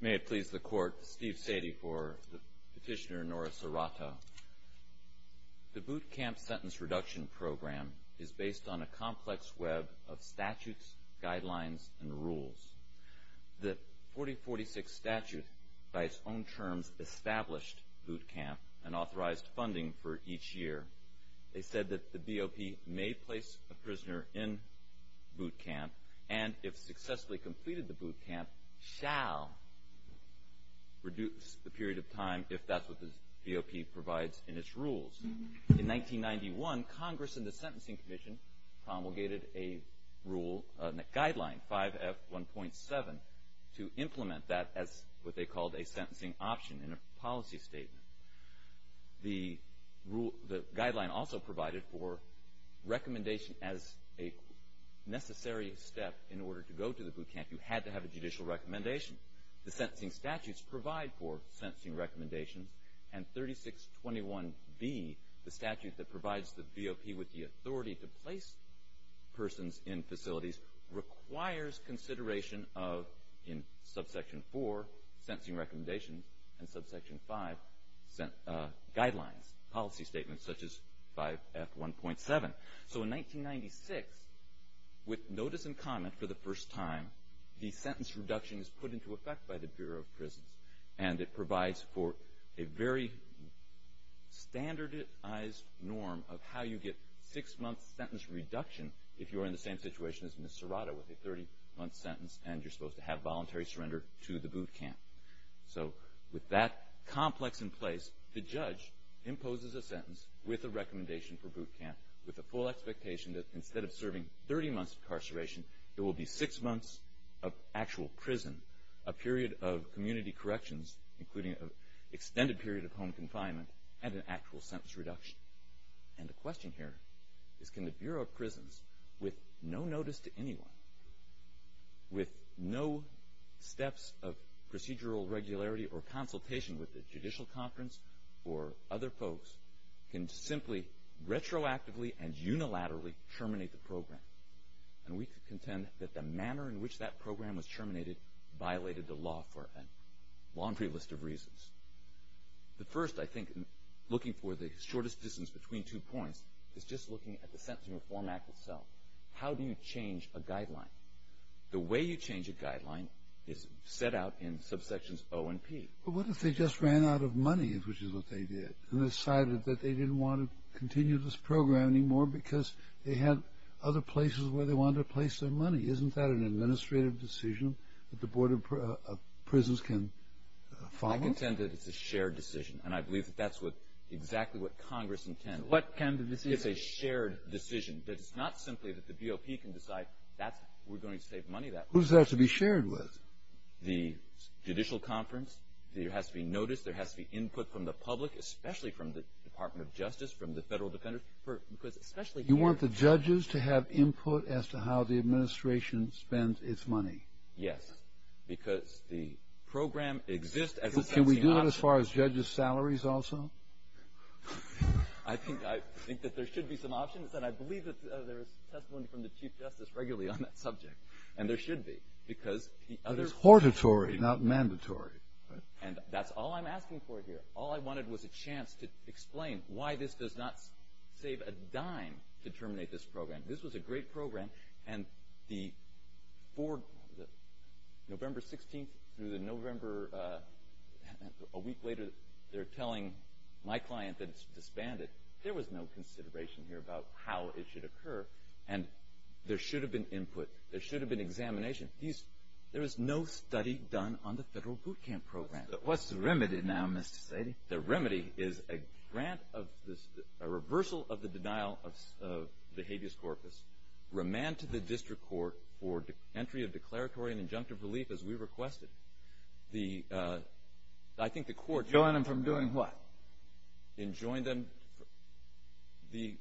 May it please the Court, Steve Sadie for Petitioner Nora Serrato. The Boot Camp Sentence Reduction Program is based on a complex web of statutes, guidelines, and rules. The 4046 statute, by its own terms, established boot camp and authorized funding for each year. They said that the BOP may place a prisoner in boot camp and, if successfully completed the boot camp, shall reduce the period of time if that's what the BOP provides in its rules. In 1991, Congress and the Sentencing Commission promulgated a rule, a guideline, 5F1.7, to implement that as what they called a sentencing option in a policy statement. The guideline also provided for recommendation as a necessary step in order to go to the boot camp. You had to have a judicial recommendation. The sentencing statutes provide for sentencing recommendations, and 3621B, the statute that provides the BOP with the authority to place persons in facilities, requires consideration of, in subsection four, sentencing recommendations, and subsection five, guidelines, policy statements, such as 5F1.7. So in 1996, with notice and comment for the first time, the sentence reduction is put into effect by the Bureau of Prisons, and it provides for a very standardized norm of how you get six-month sentence reduction if you are in the same situation as Ms. Serrato with a 30-month sentence, and you're supposed to have voluntary surrender to the boot camp. So with that complex in place, the judge imposes a sentence with a recommendation for boot camp, with the full expectation that instead of serving 30 months of incarceration, it will be six months of actual prison, a period of community corrections, including an extended period of home confinement, and an actual sentence reduction. And the question here is, can the Bureau of Prisons, with no notice to anyone, with no steps of procedural regularity or consultation with the judicial conference or other folks, can simply retroactively and unilaterally terminate the program? And we can contend that the manner in which that program was terminated The first, I think, looking for the shortest distance between two points, is just looking at the Sentencing Reform Act itself. How do you change a guideline? The way you change a guideline is set out in subsections O and P. But what if they just ran out of money, which is what they did, and decided that they didn't want to continue this program anymore because they had other places where they wanted to place their money? Isn't that an administrative decision that the Board of Prisons can follow? I contend that it's a shared decision, and I believe that that's exactly what Congress intends. It's a shared decision. It's not simply that the BOP can decide we're going to save money. Who's that to be shared with? The judicial conference. There has to be notice. There has to be input from the public, especially from the Department of Justice, from the federal defenders. You want the judges to have input as to how the administration spends its money? Yes, because the program exists as a sentencing option. Can we do that as far as judges' salaries also? I think that there should be some options, and I believe that there is testimony from the Chief Justice regularly on that subject, and there should be, because the other… But it's hortatory, not mandatory. And that's all I'm asking for here. All I wanted was a chance to explain why this does not save a dime to terminate this program. This was a great program, and the board, November 16th through the November… A week later, they're telling my client that it's disbanded. There was no consideration here about how it should occur, and there should have been input. There should have been examination. There is no study done on the federal boot camp program. What's the remedy now, Mr. Seide? The remedy is a grant of this—a reversal of the denial of behavioris corpus, remand to the district court for entry of declaratory and injunctive relief as we requested. The—I think the court… Join them from doing what? And join them—the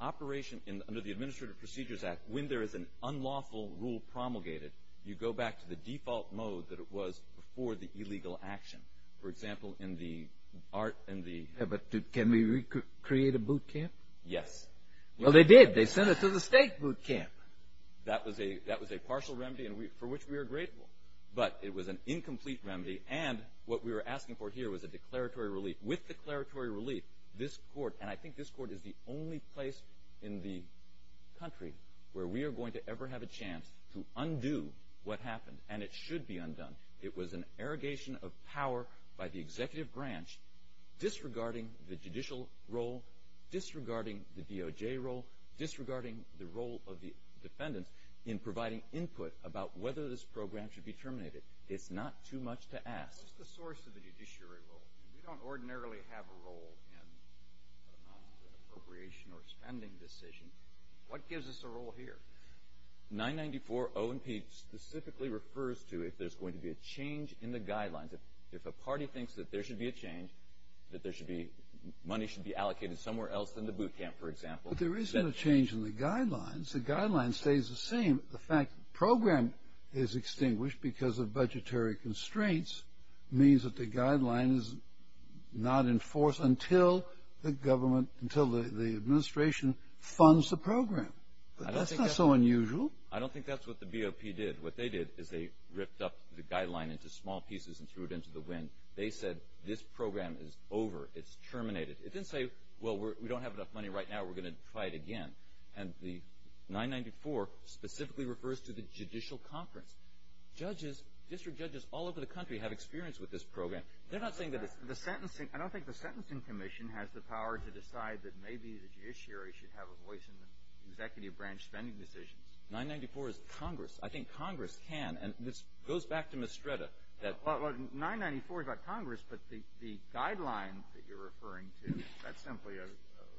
operation under the Administrative Procedures Act, when there is an unlawful rule promulgated, you go back to the default mode that it was before the illegal action. For example, in the— But can we recreate a boot camp? Yes. Well, they did. They sent it to the state boot camp. That was a partial remedy for which we are grateful, but it was an incomplete remedy, and what we were asking for here was a declaratory relief. With declaratory relief, this court— and I think this court is the only place in the country where we are going to ever have a chance to undo what happened, and it should be undone. It was an arrogation of power by the executive branch disregarding the judicial role, disregarding the DOJ role, disregarding the role of the defendants in providing input about whether this program should be terminated. It's not too much to ask. What's the source of the judiciary role? We don't ordinarily have a role in an appropriation or spending decision. What gives us a role here? 994 O&P specifically refers to if there's going to be a change in the guidelines. If a party thinks that there should be a change, that money should be allocated somewhere else than the boot camp, for example— But there isn't a change in the guidelines. The guideline stays the same. The fact the program is extinguished because of budgetary constraints means that the guideline is not enforced until the administration funds the program. But that's not so unusual. I don't think that's what the BOP did. What they did is they ripped up the guideline into small pieces and threw it into the wind. They said, this program is over. It's terminated. It didn't say, well, we don't have enough money right now. We're going to try it again. And the 994 specifically refers to the judicial conference. Judges, district judges all over the country have experience with this program. They're not saying that it's— I don't think the Sentencing Commission has the power to decide that maybe the judiciary should have a voice in the executive branch spending decisions. 994 is Congress. I think Congress can. And this goes back to Mestreda. Well, 994 is about Congress, but the guideline that you're referring to, that's simply a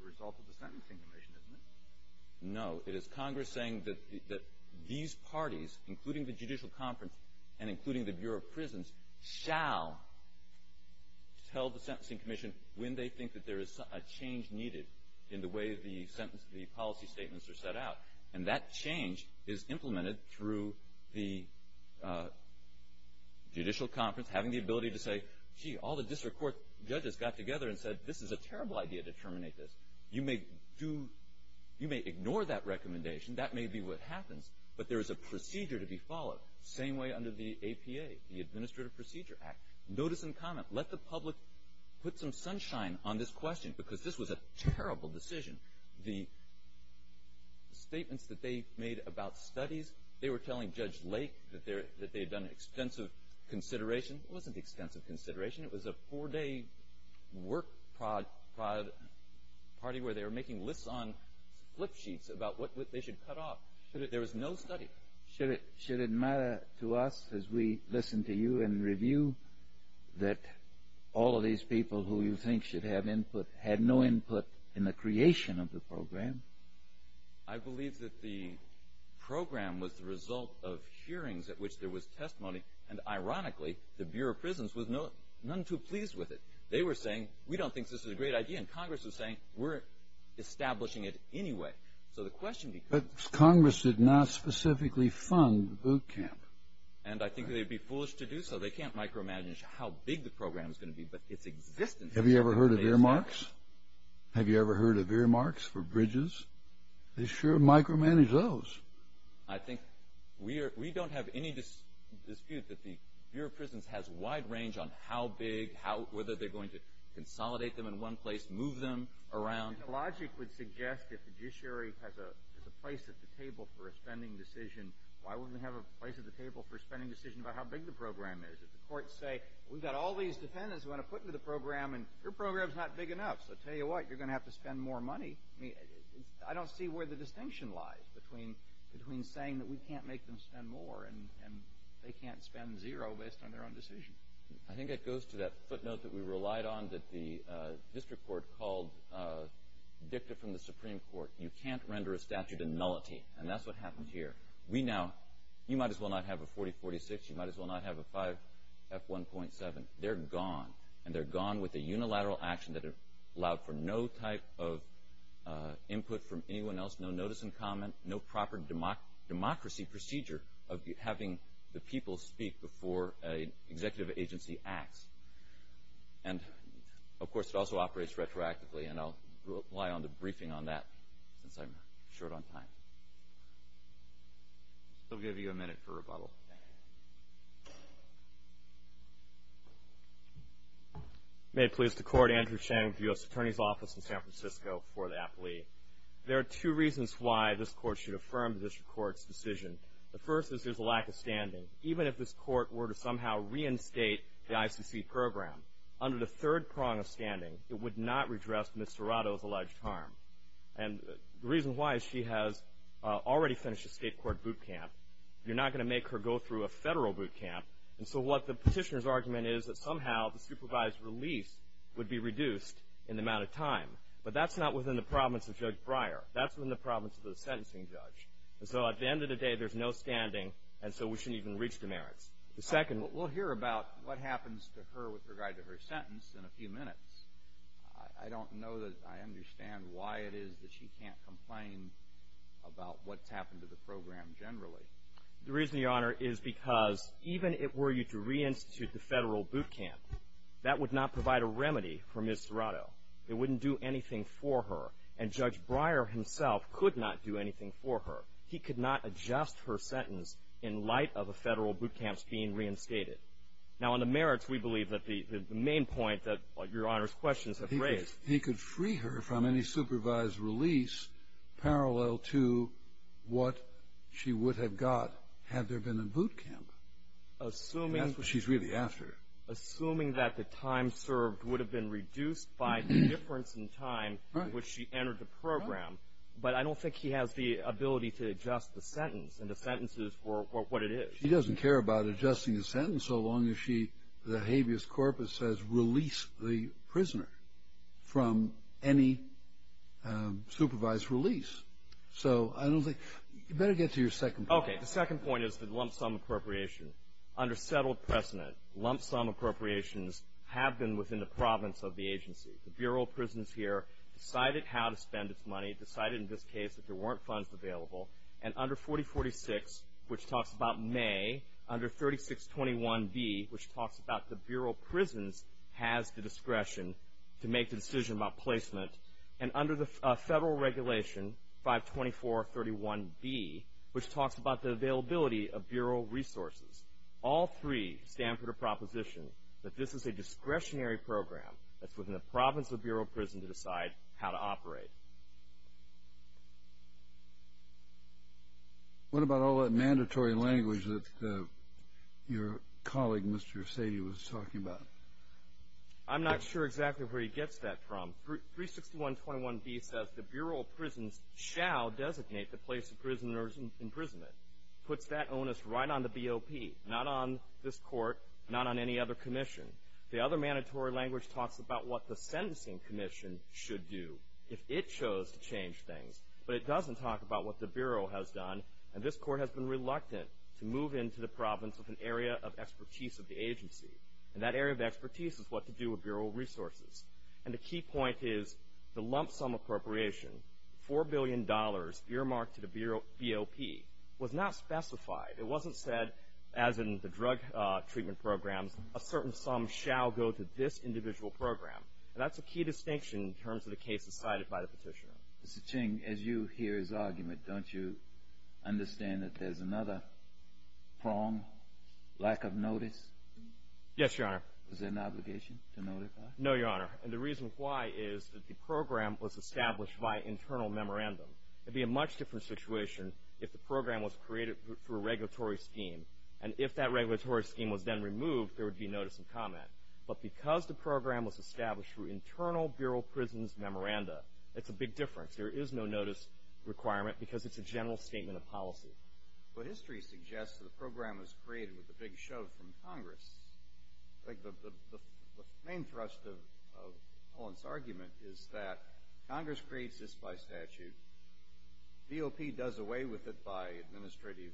result of the Sentencing Commission, isn't it? No. It is Congress saying that these parties, including the judicial conference and including the Bureau of Prisons, shall tell the Sentencing Commission when they think that there is a change needed in the way the policy statements are set out. And that change is implemented through the judicial conference having the ability to say, gee, all the district court judges got together and said, this is a terrible idea to terminate this. You may ignore that recommendation. That may be what happens, but there is a procedure to be followed. Same way under the APA, the Administrative Procedure Act. Notice and comment. Let the public put some sunshine on this question because this was a terrible decision. The statements that they made about studies, they were telling Judge Lake that they had done extensive consideration. It wasn't extensive consideration. It was a four-day work party where they were making lists on flip sheets about what they should cut off. There was no study. Should it matter to us as we listen to you and review that all of these people who you think should have input had no input in the creation of the program? I believe that the program was the result of hearings at which there was testimony. And ironically, the Bureau of Prisons was none too pleased with it. They were saying, we don't think this is a great idea. And Congress was saying, we're establishing it anyway. But Congress did not specifically fund boot camp. And I think they'd be foolish to do so. They can't micromanage how big the program is going to be. Have you ever heard of earmarks? Have you ever heard of earmarks for bridges? They sure micromanage those. I think we don't have any dispute that the Bureau of Prisons has wide range on how big, whether they're going to consolidate them in one place, move them around. And logic would suggest if the judiciary has a place at the table for a spending decision, why wouldn't they have a place at the table for a spending decision about how big the program is? If the courts say, we've got all these dependents who want to put into the program, and your program's not big enough. So tell you what, you're going to have to spend more money. I don't see where the distinction lies between saying that we can't make them spend more, and they can't spend zero based on their own decision. I think it goes to that footnote that we relied on that the district court called dicta from the Supreme Court. You can't render a statute a nullity, and that's what happened here. We now, you might as well not have a 4046, you might as well not have a 5F1.7. They're gone, and they're gone with a unilateral action that allowed for no type of input from anyone else, no notice and comment, no proper democracy procedure of having the people speak before an executive agency acts. And, of course, it also operates retroactively, and I'll rely on the briefing on that, since I'm short on time. I'll give you a minute for rebuttal. May it please the Court, Andrew Cheng, U.S. Attorney's Office in San Francisco, for the appliee. There are two reasons why this court should affirm the district court's decision. The first is there's a lack of standing. Even if this court were to somehow reinstate the ICC program, under the third prong of standing, it would not redress Ms. Serrato's alleged harm. And the reason why is she has already finished a state court boot camp. You're not going to make her go through a federal boot camp, and so what the petitioner's argument is that somehow the supervised release would be reduced in the amount of time. But that's not within the province of Judge Breyer. That's within the province of the sentencing judge. And so at the end of the day, there's no standing, and so we shouldn't even reach the merits. The second... We'll hear about what happens to her with regard to her sentence in a few minutes. I don't know that I understand why it is that she can't complain about what's happened to the program generally. The reason, Your Honor, is because even if it were you to reinstitute the federal boot camp, that would not provide a remedy for Ms. Serrato. It wouldn't do anything for her. And Judge Breyer himself could not do anything for her. He could not adjust her sentence in light of the federal boot camps being reinstated. Now, on the merits, we believe that the main point that Your Honor's questions have raised... He could free her from any supervised release parallel to what she would have got had there been a boot camp. Assuming... And that's what she's really after. Assuming that the time served would have been reduced by the difference in time... Right. ...in which she entered the program. But I don't think he has the ability to adjust the sentence and the sentences for what it is. She doesn't care about adjusting the sentence so long as she, the habeas corpus says, release the prisoner from any supervised release. So I don't think... You better get to your second point. Okay. The second point is the lump sum appropriation. Under settled precedent, lump sum appropriations have been within the province of the agency. The Bureau of Prisons here decided how to spend its money, decided in this case that there weren't funds available. And under 4046, which talks about May, under 3621B, which talks about the Bureau of Prisons has the discretion to make the decision about placement. And under the federal regulation, 52431B, which talks about the availability of Bureau resources. All three stand for the proposition that this is a discretionary program that's within the province of the Bureau of Prisons to decide how to operate. What about all that mandatory language that your colleague, Mr. Sadie, was talking about? I'm not sure exactly where he gets that from. 36121B says the Bureau of Prisons shall designate the place of prisoner's imprisonment. Puts that onus right on the BOP, not on this court, not on any other commission. The other mandatory language talks about what the sentencing commission should do if it chose to change things. But it doesn't talk about what the Bureau has done, and this court has been reluctant to move into the province of an area of expertise of the agency. And that area of expertise is what to do with Bureau resources. And the key point is the lump sum appropriation, $4 billion earmarked to the BOP, was not specified. It wasn't said, as in the drug treatment programs, a certain sum shall go to this individual program. And that's a key distinction in terms of the cases cited by the petitioner. Mr. Ching, as you hear his argument, don't you understand that there's another prong, lack of notice? Yes, Your Honor. Is there an obligation to notify? No, Your Honor. And the reason why is that the program was established by internal memorandum. It would be a much different situation if the program was created through a regulatory scheme. And if that regulatory scheme was then removed, there would be notice and comment. But because the program was established through internal Bureau prisons memoranda, it's a big difference. There is no notice requirement because it's a general statement of policy. But history suggests that the program was created with a big shove from Congress. I think the main thrust of Cullen's argument is that Congress creates this by statute. BOP does away with it by administrative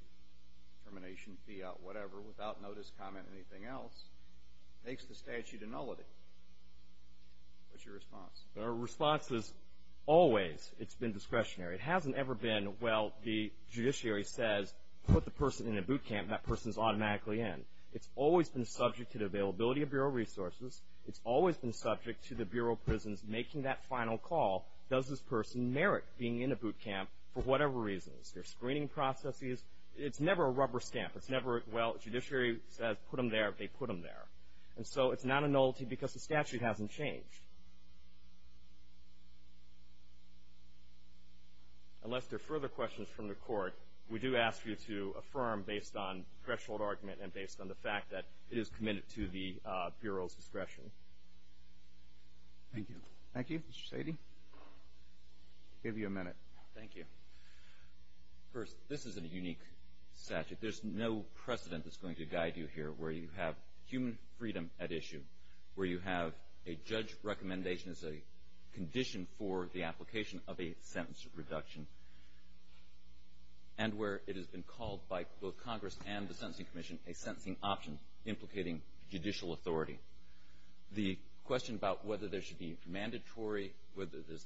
termination, fee out, whatever, without notice, comment, anything else, makes the statute a nullity. What's your response? Our response is always it's been discretionary. It hasn't ever been, well, the judiciary says put the person in a boot camp and that person is automatically in. It's always been subject to the availability of Bureau resources. It's always been subject to the Bureau prisons making that final call, does this person merit being in a boot camp for whatever reasons. Their screening processes, it's never a rubber stamp. It's never, well, judiciary says put them there, they put them there. And so it's not a nullity because the statute hasn't changed. Unless there are further questions from the Court, we do ask you to affirm based on threshold argument and based on the fact that it is committed to the Bureau's discretion. Thank you. Thank you. Mr. Sadie, we'll give you a minute. Thank you. First, this is a unique statute. There's no precedent that's going to guide you here where you have human freedom at issue, where you have a judge recommendation as a condition for the application of a sentence reduction, and where it has been called by both Congress and the Sentencing Commission a sentencing option implicating judicial authority. The question about whether there should be mandatory, whether there's,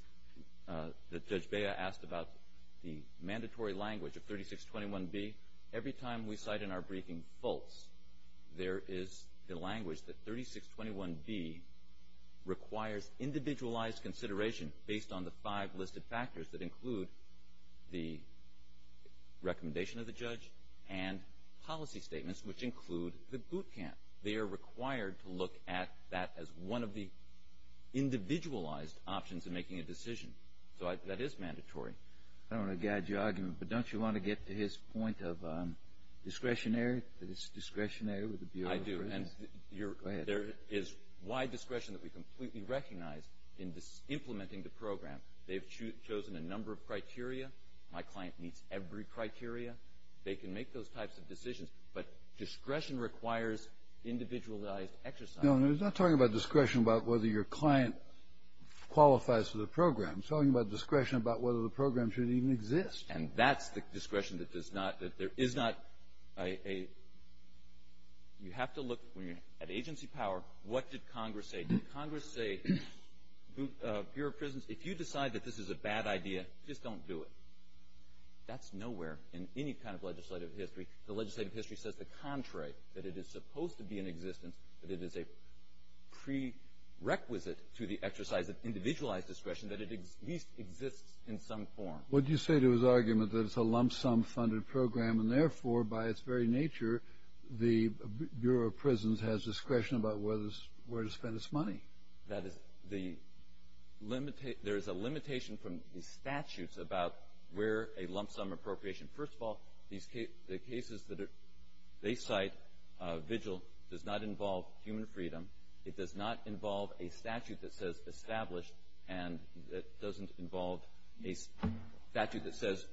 that Judge Bea asked about the mandatory language of 3621B, every time we cite in our briefing false, there is the language that 3621B requires individualized consideration based on the five listed factors that include the recommendation of the judge and policy statements which include the boot camp. They are required to look at that as one of the individualized options in making a decision. So that is mandatory. I don't want to guide your argument, but don't you want to get to his point of discretionary, that it's discretionary with the Bureau of Corrections? I do, and there is wide discretion that we completely recognize in implementing the program. They've chosen a number of criteria. My client meets every criteria. They can make those types of decisions, but discretion requires individualized exercise. No, no, he's not talking about discretion about whether your client qualifies for the program. He's talking about discretion about whether the program should even exist. And that's the discretion that does not – that there is not a – you have to look, when you're at agency power, what did Congress say? Did Congress say, Bureau of Prisons, if you decide that this is a bad idea, just don't do it. That's nowhere in any kind of legislative history. The legislative history says the contrary, that it is supposed to be in existence, that it is a prerequisite to the exercise of individualized discretion, that it at least exists in some form. What do you say to his argument that it's a lump-sum funded program, and therefore, by its very nature, the Bureau of Prisons has discretion about where to spend its money? There is a limitation from the statutes about where a lump-sum appropriation – first of all, the cases that they cite, vigil, does not involve human freedom. It does not involve a statute that says established, and it doesn't involve a statute that says,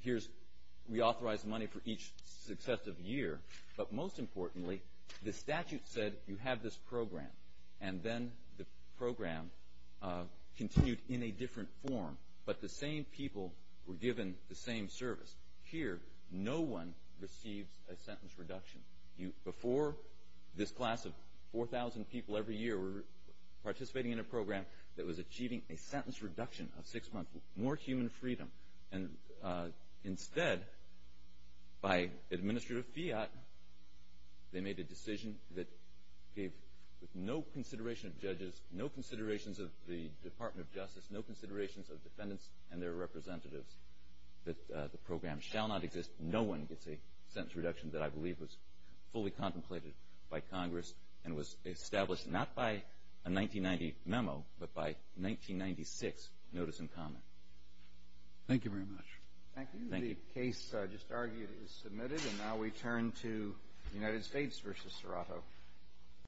here's – we authorize money for each successive year. But most importantly, the statute said you have this program, and then the program continued in a different form. But the same people were given the same service. Here, no one receives a sentence reduction. Before, this class of 4,000 people every year were participating in a program that was achieving a sentence reduction of six months, more human freedom. And instead, by administrative fiat, they made a decision that gave, with no consideration of judges, no considerations of the Department of Justice, no considerations of defendants and their representatives, that the program shall not exist. No one gets a sentence reduction that I believe was fully contemplated by Congress and was established not by a 1990 memo, but by 1996 notice in common. Thank you very much. Thank you. The case just argued is submitted, and now we turn to United States v. Serato.